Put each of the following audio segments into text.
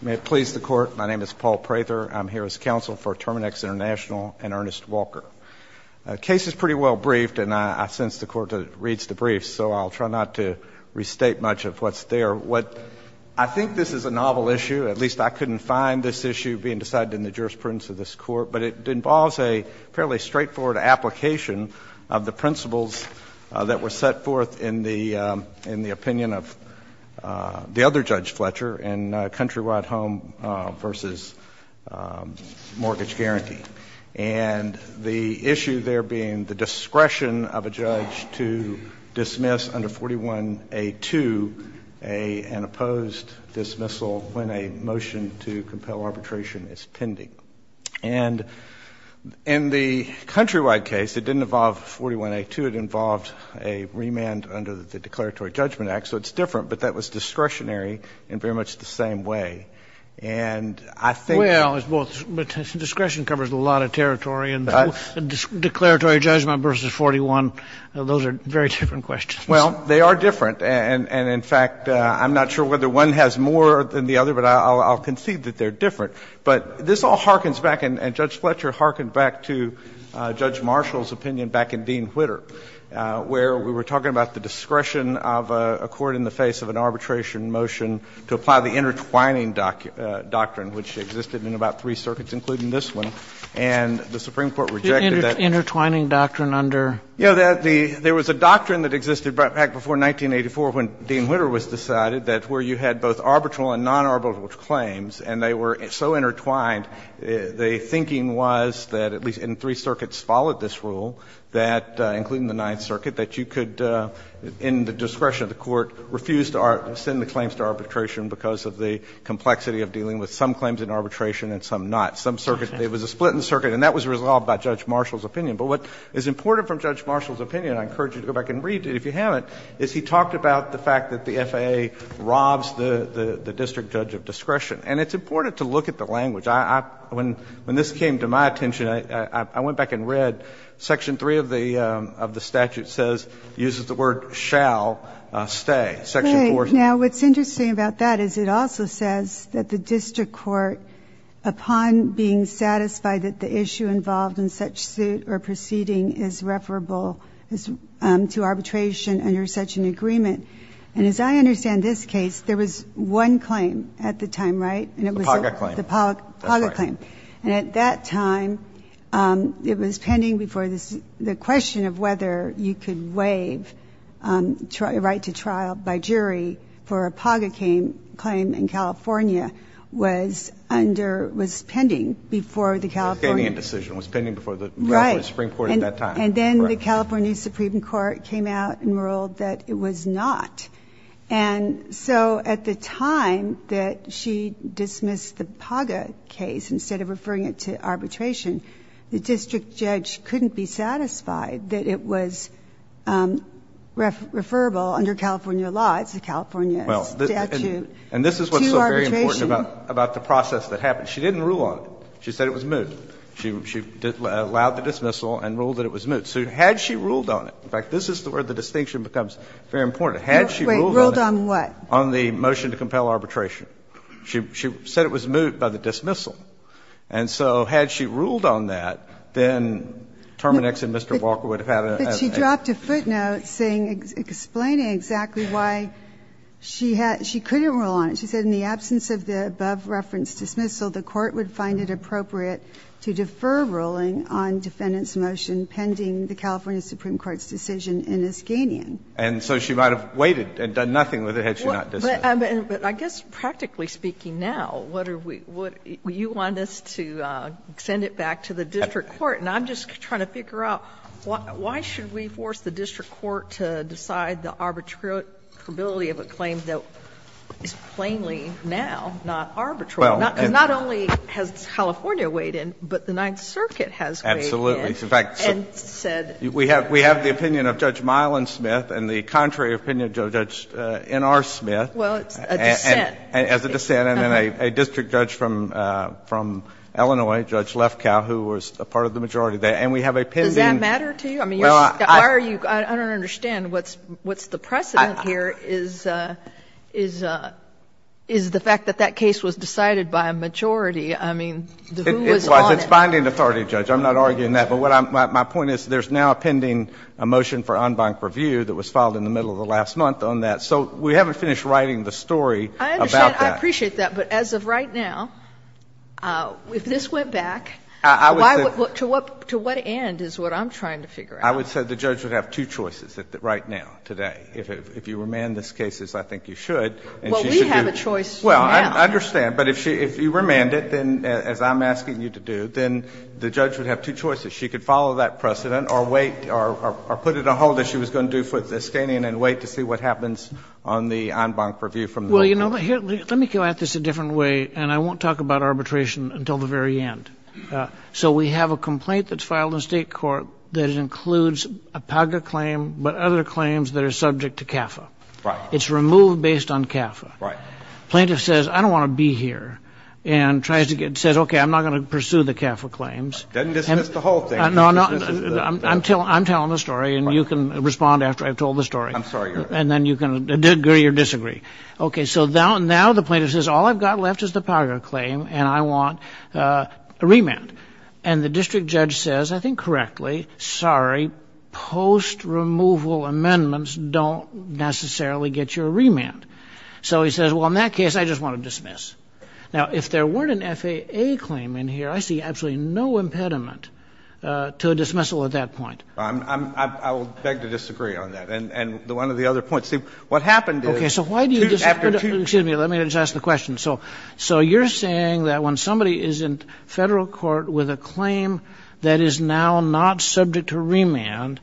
May it please the Court, my name is Paul Prather. I'm here as counsel for Terminix Int'l and Ernest Walker. The case is pretty well briefed and I sense the Court reads the brief, so I'll try not to restate much of what's there. I think this is a novel issue, at least I couldn't find this issue being decided in the jurisprudence of this Court, but it involves a fairly straightforward application of the principles that were set forth in the opinion of the other Judge Fletcher in Countrywide Home v. Mortgage Guarantee, and the issue there being the discretion of a judge to dismiss under 41A2 an opposed dismissal when a motion to compel arbitration is pending. And in the Countrywide case, it didn't involve 41A2, it involved a remand under the Declaratory Judgment Act, so it's different, but that was discretionary in very much the same way. And I think the question is, well, discretion covers a lot of territory and Declaratory Judgment v. 41, those are very different questions. Well, they are different, and in fact, I'm not sure whether one has more than the other, but I'll concede that they're different. But this all harkens back, and Judge Marshall's opinion back in Dean-Whitter, where we were talking about the discretion of a court in the face of an arbitration motion to apply the intertwining doctrine, which existed in about three circuits, including this one, and the Supreme Court rejected that. Intertwining doctrine under? You know, there was a doctrine that existed back before 1984 when Dean-Whitter was decided that where you had both arbitral and non-arbitral claims and they were so intertwined, the thinking was that at least in three circuits followed this rule, that, including the Ninth Circuit, that you could, in the discretion of the court, refuse to send the claims to arbitration because of the complexity of dealing with some claims in arbitration and some not. Some circuits, there was a split in the circuit, and that was resolved by Judge Marshall's opinion. But what is important from Judge Marshall's opinion, I encourage you to go back and read it if you haven't, is he talked about the fact that the FAA robs the district judge of discretion. And it's important to look at the language. When this came to my attention, I went back and read Section 3 of the statute says, uses the word shall stay. Section 4 says... Now, what's interesting about that is it also says that the district court, upon being satisfied that the issue involved in such suit or proceeding is referable to arbitration under such an agreement. And as I understand this case, there was one claim at the time, right? And it was the Paga claim. And at that time, it was pending before the question of whether you could waive a right to trial by jury for a Paga claim in California was under, was pending before the California... It was a Canadian decision. It was pending before the California Supreme Court at that time. And then the California Supreme Court came out and ruled that it was not. And so at the time that she dismissed the Paga case, instead of referring it to arbitration, the district judge couldn't be satisfied that it was referable under California law. It's a California statute. And this is what's so very important about the process that happened. She didn't rule on it. She said it was moot. She allowed the dismissal and ruled that it was moot. So had she ruled on it, in fact, this is where the distinction becomes very important. Had she ruled on it... Wait. Ruled on what? On the motion to compel arbitration. She said it was moot by the dismissal. And so had she ruled on that, then Terminex and Mr. Walker would have had a... But she dropped a footnote saying, explaining exactly why she couldn't rule on it. She said in the absence of the above-referenced dismissal, the Court would find it appropriate to defer ruling on defendant's motion pending the California Supreme Court's decision in Iskanian. And so she might have waited and done nothing with it had she not dismissed. But I guess practically speaking now, what are we – you want us to send it back to the district court, and I'm just trying to figure out why should we force the district court to decide the arbitrability of a claim that is plainly, now, not arbitrable? Because not only has California weighed in, but the Ninth Circuit has weighed in. Absolutely. In fact, we have the opinion of Judge Myelin-Smith and the contrary opinion of Judge N.R. Smith. Well, it's a dissent. As a dissent. And then a district judge from Illinois, Judge Lefkow, who was a part of the majority there. And we have a pending... Does that matter to you? I mean, why are you – I don't understand what's the precedent here is the fact that that case was decided by a majority. I mean, who was on it? It's binding authority, Judge. I'm not arguing that. But what I'm – my point is there's now a pending motion for en banc review that was filed in the middle of the last month on that. So we haven't finished writing the story about that. I understand. I appreciate that. But as of right now, if this went back, why – to what end is what I'm trying to figure out? I would say the judge would have two choices right now, today. If you remand this case, as I think you should, and she should do... Well, we have a choice now. Well, I understand. But if you remand it, then, as I'm asking you to do, then the judge would have two choices. She could follow that precedent or wait – or put it a hold, as she was going to do for the Skanian, and wait to see what happens on the en banc review from the local judge. Well, you know, let me go at this a different way, and I won't talk about arbitration until the very end. So we have a complaint that's filed in state court that includes a PAGRA claim, but other claims that are subject to CAFA. Right. It's removed based on CAFA. Right. Plaintiff says, I don't want to be here, and tries to get – says, okay, I'm not going to pursue the CAFA claims. Then dismiss the whole thing. No, no, I'm telling the story, and you can respond after I've told the story. I'm sorry. And then you can agree or disagree. Okay, so now the plaintiff says, all I've got left is the PAGRA claim, and I want a remand. And the district judge says, I think correctly, sorry, post-removal amendments don't necessarily get you a remand. So he says, well, in that case, I just want to dismiss. Now, if there weren't an FAA claim in here, I see absolutely no impediment to a dismissal at that point. Well, I'm – I will beg to disagree on that, and one of the other points. See, what happened is – Okay, so why do you disagree – Excuse me. Let me just ask the question. So you're saying that when somebody is in federal court with a claim that is now not subject to remand,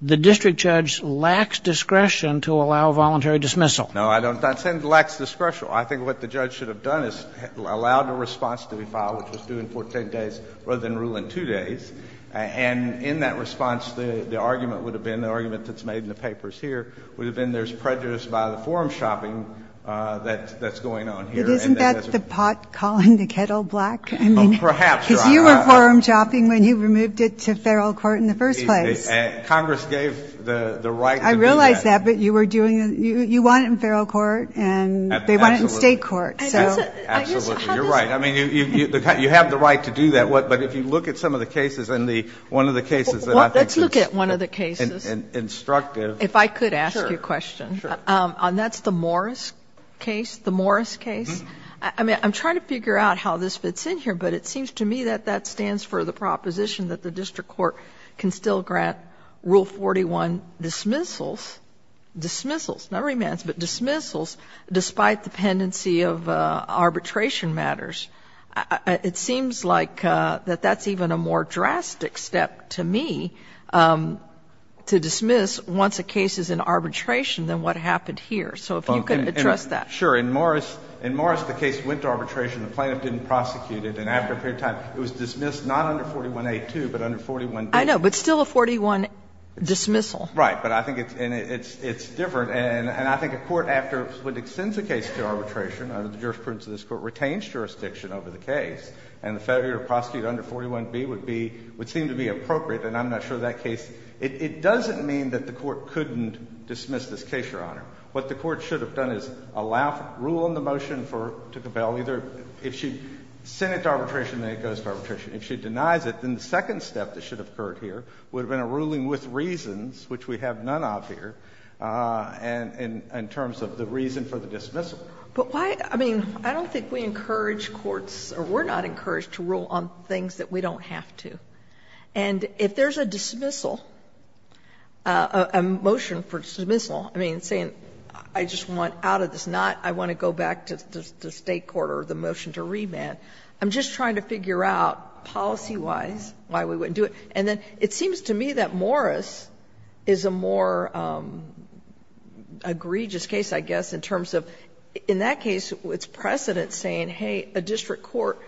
the district judge lacks discretion to allow voluntary dismissal? No, I'm not saying it lacks discretion. I think what the judge should have done is allowed a response to be filed, which was due in 14 days, rather than rule in two days. And in that response, the argument would have been – the argument that's made in the papers here would have been there's prejudice by the forum shopping that's going on here. Isn't that the pot calling the kettle black? Well, perhaps, Your Honor. Because you were forum shopping when you removed it to federal court in the first place. Congress gave the right to do that. I realize that, but you were doing – you want it in federal court, and they want it in state court, so – Absolutely. You're right. I mean, you have the right to do that, but if you look at some of the cases, and the – one of the cases that I think is – Well, let's look at one of the cases. Instructive. If I could ask you a question. Sure, sure. And that's the Morris case? The Morris case? I mean, I'm trying to figure out how this fits in here, but it seems to me that that stands for the proposition that the district court can still grant Rule 41 dismissals – dismissals, not remands, but dismissals – despite the pendency of arbitration matters. It seems like that that's even a more drastic step to me to dismiss once a case is in court. So I'm wondering if you could address that. Sure. In Morris, the case went to arbitration. The plaintiff didn't prosecute it, and after a period of time, it was dismissed not under 41A too, but under 41B. I know, but still a 41 dismissal. Right. But I think it's different, and I think a court, after it extends a case to arbitration, the jurisprudence of this court retains jurisdiction over the case, and the failure to prosecute under 41B would be – would seem to be appropriate, and I'm not sure that case – it doesn't mean that the court couldn't dismiss this case, Your Honor. What the court should have done is allow – rule in the motion for – to compel either – if she sent it to arbitration, then it goes to arbitration. If she denies it, then the second step that should have occurred here would have been a ruling with reasons, which we have none of here, in terms of the reason for the dismissal. But why – I mean, I don't think we encourage courts – or we're not encouraged to rule on things that we don't have to. And if there's a dismissal, a motion for dismissal, I mean, saying I just want out of this, not I want to go back to the State court or the motion to remand, I'm just trying to figure out policy-wise why we wouldn't do it. And then it seems to me that Morris is a more egregious case, I guess, in terms of in that case it's precedent saying, hey, a district court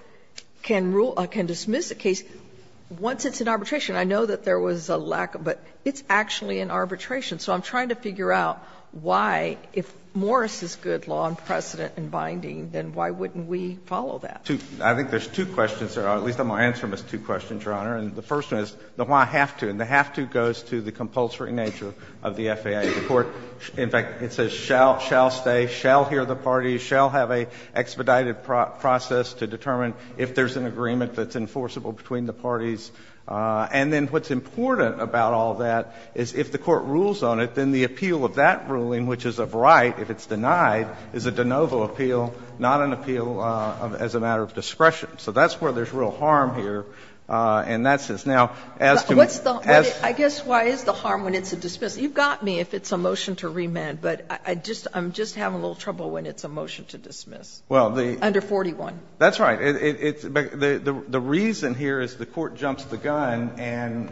can rule – can dismiss a case. Once it's in arbitration, I know that there was a lack of – but it's actually in arbitration. So I'm trying to figure out why, if Morris is good law and precedent and binding, then why wouldn't we follow that? I think there's two questions there, or at least I'm going to answer them as two questions, Your Honor. And the first one is the why have to. And the have to goes to the compulsory nature of the FAA. The court – in fact, it says shall stay, shall hear the parties, shall have an expedited process to determine if there's an agreement that's enforceable between the parties. And then what's important about all that is if the court rules on it, then the appeal of that ruling, which is of right if it's denied, is a de novo appeal, not an appeal as a matter of discretion. So that's where there's real harm here. And that's just now as to – as to why it's a dismiss. You've got me if it's a motion to remand, but I just – I'm just having a little trouble when it's a motion to dismiss. Under 41. That's right. It's – the reason here is the court jumps the gun and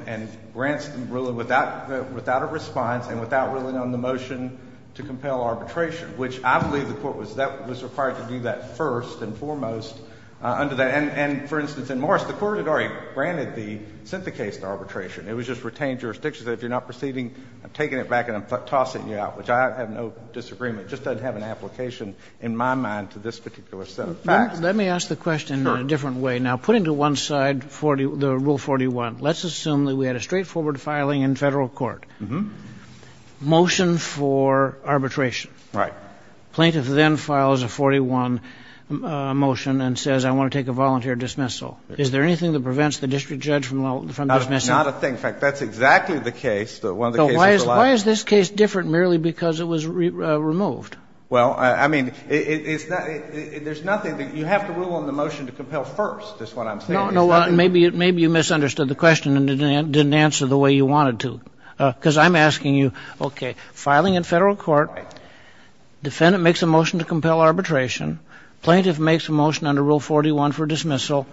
grants the ruling without a response and without ruling on the motion to compel arbitration, which I believe the court was – that was required to do that first and foremost under that. And, for instance, in Morris, the court had already granted the – sent the case to arbitration. It was just retained jurisdiction, said if you're not proceeding, I'm taking it back and I'm tossing you out, which I have no disagreement. It just doesn't have an application in my mind to this particular set of facts. Let me ask the question in a different way. Sure. Now, putting to one side the Rule 41, let's assume that we had a straightforward filing in Federal court. Motion for arbitration. Right. Plaintiff then files a 41 motion and says, I want to take a volunteer dismissal. Is there anything that prevents the district judge from dismissing? Not a thing. In fact, that's exactly the case, one of the cases. Why is this case different merely because it was removed? Well, I mean, there's nothing – you have to rule on the motion to compel first, is what I'm saying. No, no, maybe you misunderstood the question and didn't answer the way you wanted to, because I'm asking you, okay, filing in Federal court, defendant makes a motion to compel arbitration, plaintiff makes a motion under Rule 41 for dismissal,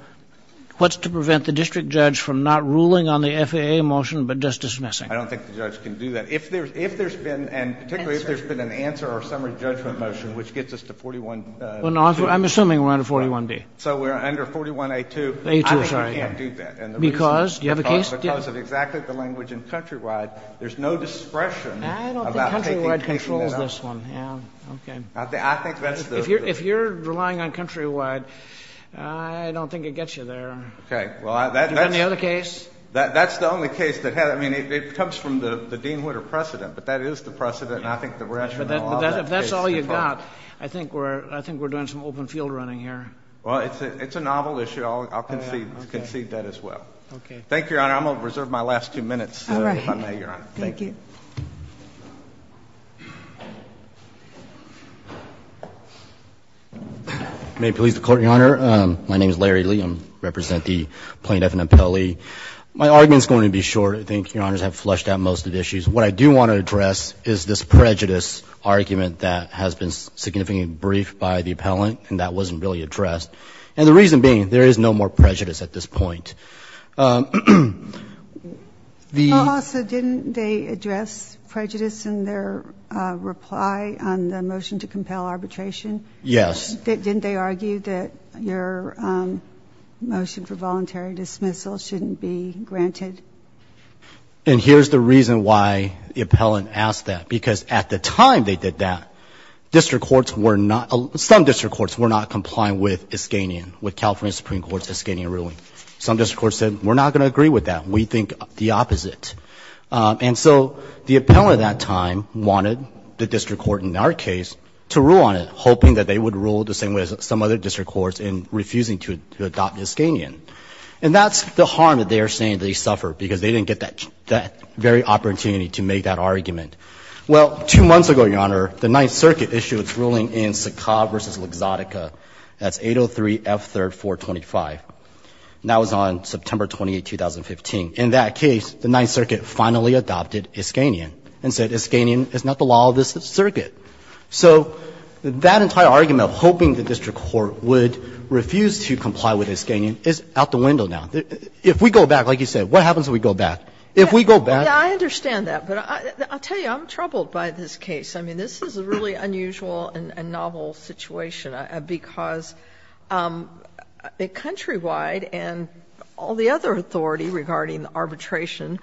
what's to prevent the district judge from not ruling on the FAA motion but just dismissing? I don't think the judge can do that. If there's been, and particularly if there's been an answer or summary judgment motion, which gets us to 41. Well, no, I'm assuming we're under 41D. So we're under 41A2. A2, sorry. I think you can't do that. Because? Do you have a case? Because of exactly the language in Countrywide, there's no discretion. I don't think Countrywide controls this one, yeah. Okay. I think that's the. If you're relying on Countrywide, I don't think it gets you there. Okay. Well, that's. Is there any other case? That's the only case that has. I mean, it comes from the Dean Whitter precedent. But that is the precedent. And I think the rationale of it is. If that's all you've got, I think we're doing some open field running here. Well, it's a novel issue. I'll concede that as well. Okay. Thank you, Your Honor. I'm going to reserve my last two minutes, if I may, Your Honor. Thank you. May it please the Court, Your Honor. My name is Larry Lee. I represent the plaintiff and appellee. My argument is going to be short. I think Your Honors have flushed out most of the issues. What I do want to address is this prejudice argument that has been significantly briefed by the appellant. And that wasn't really addressed. And the reason being, there is no more prejudice at this point. Also, didn't they address prejudice in their reply on the motion to compel arbitration? Yes. Didn't they argue that your motion for voluntary dismissal shouldn't be granted? And here's the reason why the appellant asked that. Because at the time they did that, some district courts were not complying with Iskanian, with California Supreme Court's Iskanian ruling. Some district courts said, we're not going to agree with that. We think the opposite. And so the appellant at that time wanted the district court in our case to rule on it, hoping that they would rule the same way as some other district courts in refusing to adopt Iskanian. And that's the harm that they are saying they suffer, because they didn't get that very opportunity to make that argument. Well, two months ago, Your Honor, the Ninth Circuit issued its ruling in Sakha versus Luxottica. That's 803 F3 425. And that was on September 28, 2015. In that case, the Ninth Circuit finally adopted Iskanian and said Iskanian is not the law of this circuit. So that entire argument of hoping the district court would refuse to comply with Iskanian is out the window now. If we go back, like you said, what happens if we go back? If we go back. Sotomayor, I understand that, but I'll tell you, I'm troubled by this case. I mean, this is a really unusual and novel situation, because the countrywide and all the other authority regarding arbitration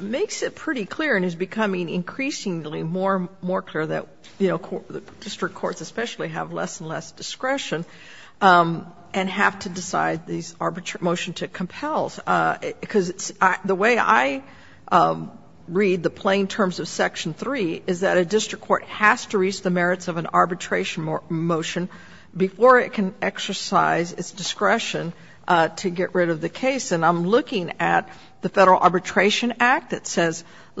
makes it pretty clear and is becoming increasingly more and more clear that the district courts especially have less and less discretion and have to decide this arbitration motion to compel. Because the way I read the plain terms of Section 3 is that a district court has to reach the merits of an arbitration motion before it can exercise its discretion to get rid of the case. And I'm looking at the Federal Arbitration Act that says it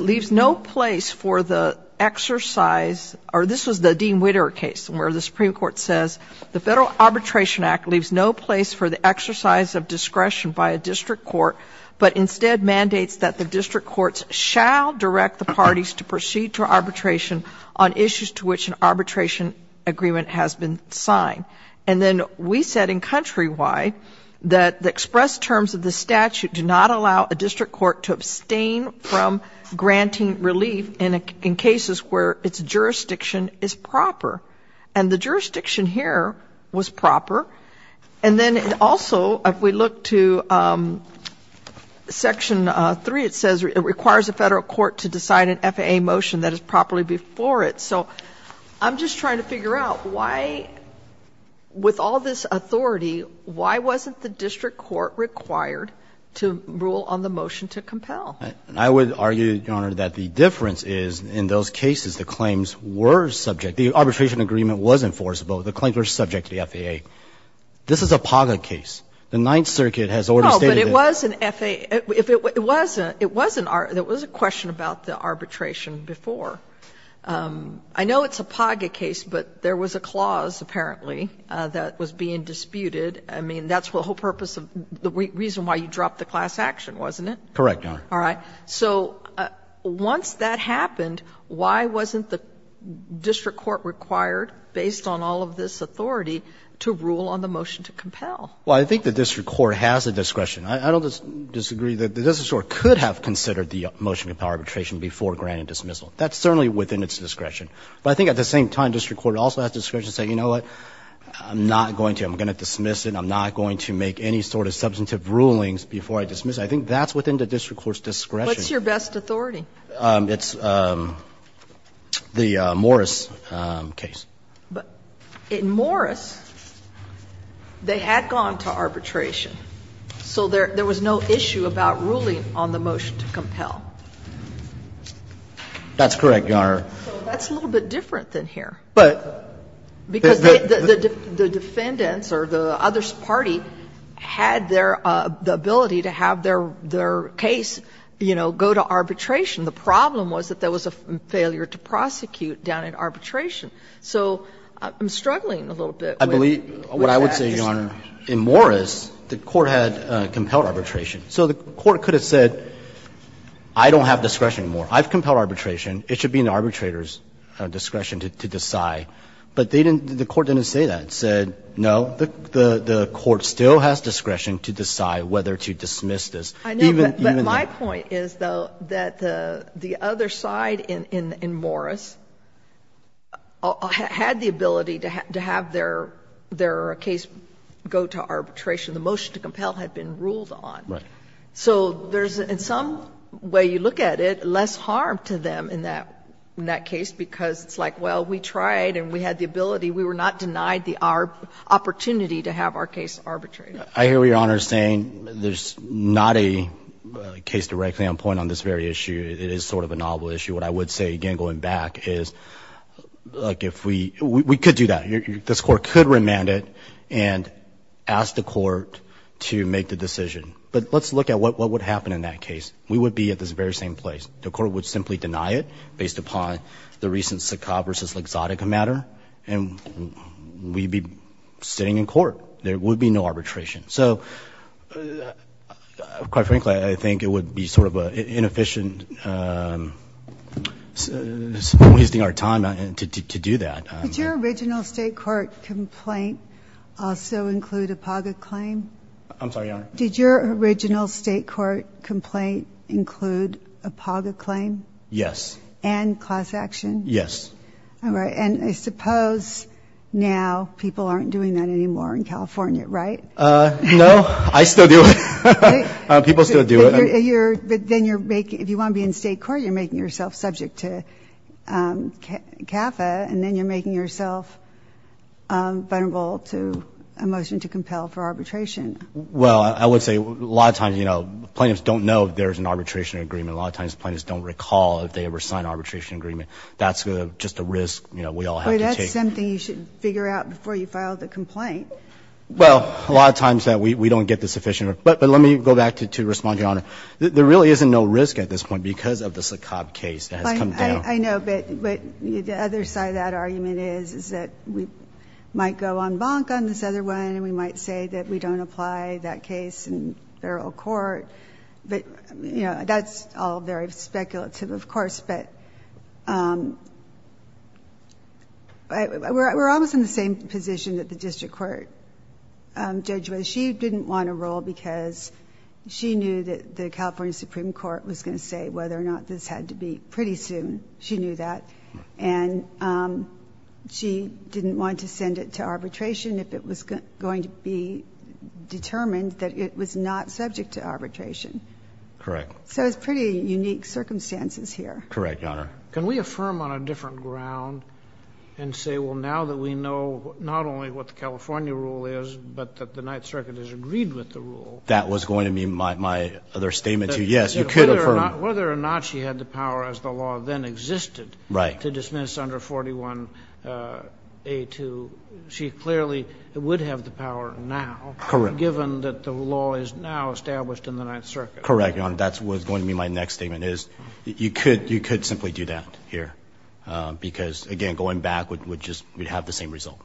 leaves no place for the exercise, or this was the Dean Witter case, where the Supreme Court says the Federal Arbitration Act leaves no place for the exercise of discretion by a district court, but instead mandates that the district courts shall direct the parties to proceed to arbitration on issues to which an arbitration agreement has been signed. And then we said in countrywide that the express terms of the statute do not allow a district court to abstain from granting relief in cases where its jurisdiction is proper. And the jurisdiction here was proper. And then also, if we look to Section 3, it says it requires a Federal court to decide an FAA motion that is properly before it. So I'm just trying to figure out why, with all this authority, why wasn't the district court required to rule on the motion to compel? I would argue, Your Honor, that the difference is in those cases the claims were subject the arbitration agreement was enforceable, the claims were subject to the FAA. This is a POGA case. The Ninth Circuit has already stated that. No, but it was an FAA. If it wasn't, it was a question about the arbitration before. I know it's a POGA case, but there was a clause, apparently, that was being disputed. I mean, that's the whole purpose of the reason why you dropped the class action, wasn't it? Correct, Your Honor. All right. So once that happened, why wasn't the district court required, based on all of this authority, to rule on the motion to compel? Well, I think the district court has the discretion. I don't disagree that the district court could have considered the motion to compel arbitration before granted dismissal. That's certainly within its discretion. But I think at the same time, district court also has discretion to say, you know what, I'm not going to, I'm going to dismiss it and I'm not going to make any sort of substantive rulings before I dismiss it. I think that's within the district court's discretion. What's your best authority? It's the Morris case. But in Morris, they had gone to arbitration, so there was no issue about ruling on the motion to compel. That's correct, Your Honor. So that's a little bit different than here. But the defendants or the other party had their ability to have their case, you know, go to arbitration. The problem was that there was a failure to prosecute down in arbitration. So I'm struggling a little bit with that. I believe what I would say, Your Honor, in Morris, the court had compelled arbitration. So the court could have said, I don't have discretion anymore. I've compelled arbitration. It should be in the arbitrator's discretion to decide. But they didn't, the court didn't say that. It said, no, the court still has discretion to decide whether to dismiss this. Even that. I know, but my point is, though, that the other side in Morris had the ability to have their case go to arbitration. The motion to compel had been ruled on. So there's, in some way, you look at it, less harm to them in that case. Because it's like, well, we tried and we had the ability. We were not denied the opportunity to have our case arbitrated. I hear what Your Honor is saying. There's not a case directly on point on this very issue. It is sort of a novel issue. What I would say, again, going back, is we could do that. This court could remand it and ask the court to make the decision. But let's look at what would happen in that case. We would be at this very same place. The court would simply deny it based upon the recent Sakab versus L'Exotica matter. And we'd be sitting in court. There would be no arbitration. So, quite frankly, I think it would be sort of an inefficient, wasting our time to do that. Did your original state court complaint also include a PGA claim? I'm sorry, Your Honor. Did your original state court complaint include a PAGA claim? Yes. And class action? Yes. All right, and I suppose now people aren't doing that anymore in California, right? No, I still do it. People still do it. But then if you want to be in state court, you're making yourself subject to CAFA. And then you're making yourself vulnerable to a motion to compel for arbitration. Well, I would say a lot of times plaintiffs don't know if there's an arbitration agreement. A lot of times plaintiffs don't recall if they ever signed an arbitration agreement. That's just a risk we all have to take. But that's something you should figure out before you file the complaint. Well, a lot of times we don't get the sufficient. But let me go back to respond to Your Honor. There really isn't no risk at this point because of the Sakab case that has come down. I know, but the other side of that argument is that we might go on bonk on this other one. And we might say that we don't apply that case in federal court. But that's all very speculative, of course. But we're almost in the same position that the district court judge was. She didn't want to roll because she knew that the California Supreme Court was going to say whether or not this had to be pretty soon. She knew that. And she didn't want to send it to arbitration if it was going to be determined that it was not subject to arbitration. Correct. So it's pretty unique circumstances here. Correct, Your Honor. Can we affirm on a different ground and say, well, now that we know not only what the California rule is, but that the Ninth Circuit has agreed with the rule. That was going to be my other statement, too. Yes, you could affirm. Whether or not she had the power as the law then existed. Right. To dismiss under 41A2. She clearly would have the power now. Correct. Given that the law is now established in the Ninth Circuit. Correct, Your Honor. That's what's going to be my next statement is you could simply do that here. Because, again, going back would just have the same result.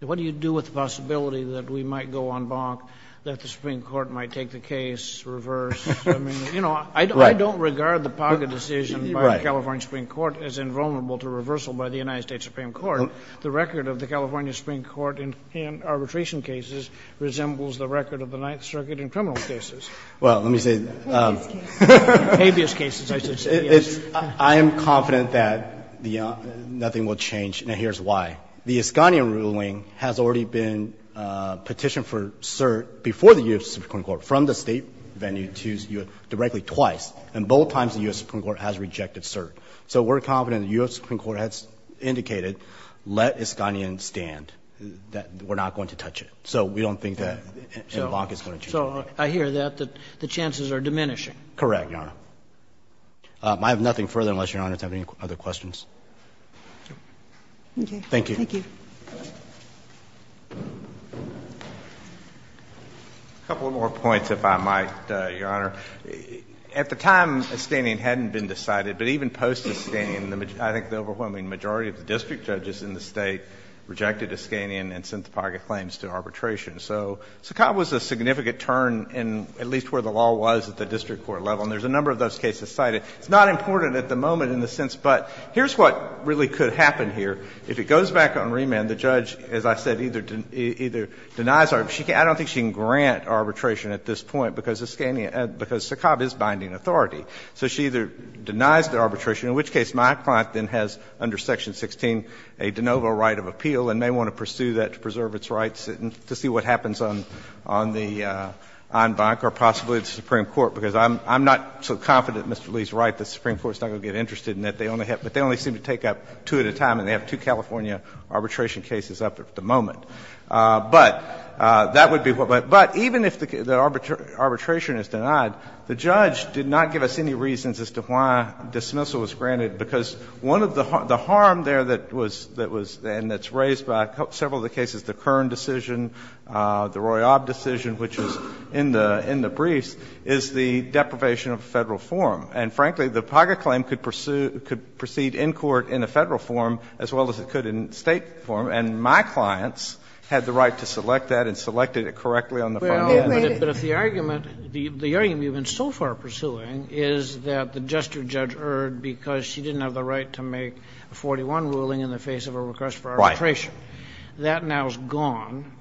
What do you do with the possibility that we might go on bonk, that the Supreme Court might take the case reverse? I mean, you know, I don't regard the Paga decision by the California Supreme Court as invulnerable to reversal by the United States Supreme Court. The record of the California Supreme Court in arbitration cases resembles the record of the Ninth Circuit in criminal cases. Well, let me say that. Habeas cases. Habeas cases, I should say, yes. I am confident that nothing will change, and here's why. The Iskanyan ruling has already been petitioned for cert before the U.S. Supreme Court, from the state venue to directly twice. And both times the U.S. Supreme Court has rejected cert. So we're confident the U.S. Supreme Court has indicated, let Iskanyan stand, that we're not going to touch it. So we don't think that a bonk is going to change anything. So I hear that, that the chances are diminishing. Correct, Your Honor. I have nothing further unless Your Honor has any other questions. Thank you. Thank you. A couple of more points, if I might, Your Honor. At the time, Iskanyan hadn't been decided, but even post-Iskanyan, I think the overwhelming majority of the district judges in the state rejected Iskanyan and sent the pocket claims to arbitration. So Sakat was a significant turn in at least where the law was at the district court level, and there's a number of those cases cited. It's not important at the moment in the sense, but here's what really could happen here. If it goes back on remand, the judge, as I said, either denies arbitration or I don't think she can grant arbitration at this point because Iskanyan, because Sakat is binding authority. So she either denies the arbitration, in which case my client then has, under Section 16, a de novo right of appeal and may want to pursue that to preserve its rights and to see what happens on the en banc or possibly the Supreme Court, because I'm not so confident, Mr. Lee's right, the Supreme Court's not going to get interested in that, but they only seem to take up two at a time and they have two California arbitration cases up at the moment. But that would be what would happen. But even if the arbitration is denied, the judge did not give us any reasons as to why dismissal was granted, because one of the harm there that was raised by several of the cases, the Kern decision, the Royob decision, which is in the briefs, is the deprivation of Federal forum. And, frankly, the PAGA claim could pursue, could proceed in court in a Federal forum as well as it could in State forum, and my clients had the right to select that and selected it correctly on the forum. Kennedy, but if the argument, the argument you've been so far pursuing is that the jester judge erred because she didn't have the right to make a 41 ruling in the face of a request for arbitration. That now is gone.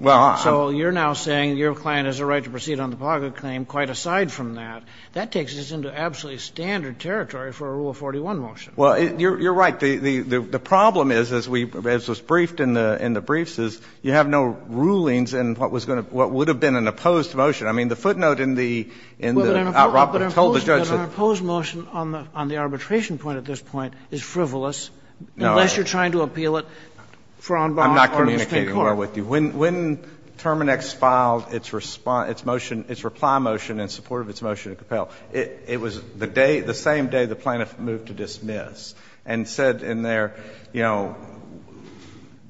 So you're now saying your client has a right to proceed on the PAGA claim quite aside from that. That takes us into absolutely standard territory for a Rule 41 motion. Well, you're right. The problem is, as we, as was briefed in the briefs, is you have no rulings in what was going to, what would have been an opposed motion. I mean, the footnote in the, in the, told the judge that. But an opposed motion on the arbitration point at this point is frivolous, unless you're trying to appeal it for en bas or in the Supreme Court. I'm not communicating well with you. When, when Terminex filed its response, its motion, its reply motion in support of its motion to compel, it, it was the day, the same day the plaintiff moved to dismiss and said in their, you know,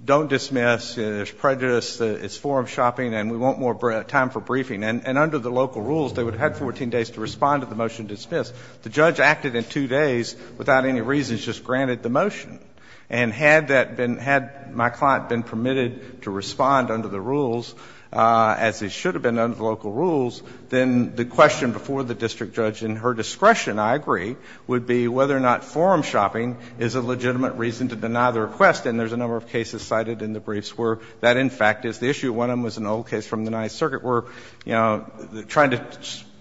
don't dismiss, there's prejudice, it's forum shopping and we want more time for briefing. And under the local rules, they would have had 14 days to respond to the motion dismissed. The judge acted in two days without any reasons, just granted the motion. And had that been, had my client been permitted to respond under the rules, as it should have been under the local rules, then the question before the district judge in her discretion, I agree, would be whether or not forum shopping is a legitimate reason to deny the request. And there's a number of cases cited in the briefs where that, in fact, is the issue. One of them was an old case from the Ninth Circuit where, you know, trying to,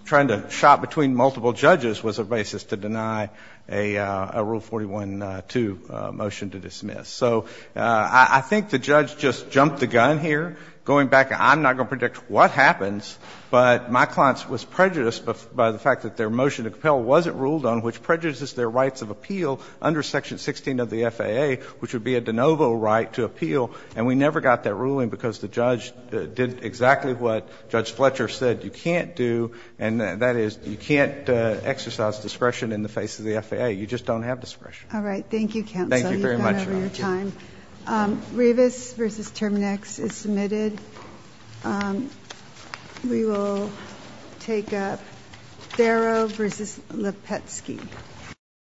trying to shop between multiple judges was a basis to deny a, a Rule 41-2 motion. So I think the judge just jumped the gun here, going back, I'm not going to predict what happens, but my client was prejudiced by the fact that their motion to compel wasn't ruled on, which prejudices their rights of appeal under Section 16 of the FAA, which would be a de novo right to appeal. And we never got that ruling because the judge did exactly what Judge Fletcher said you can't do, and that is you can't exercise discretion in the face of the FAA. You just don't have discretion. All right, thank you, counsel. Thank you very much. You've gone over your time. Rivas versus Terminex is submitted. We will take up Barrow versus Lepetsky.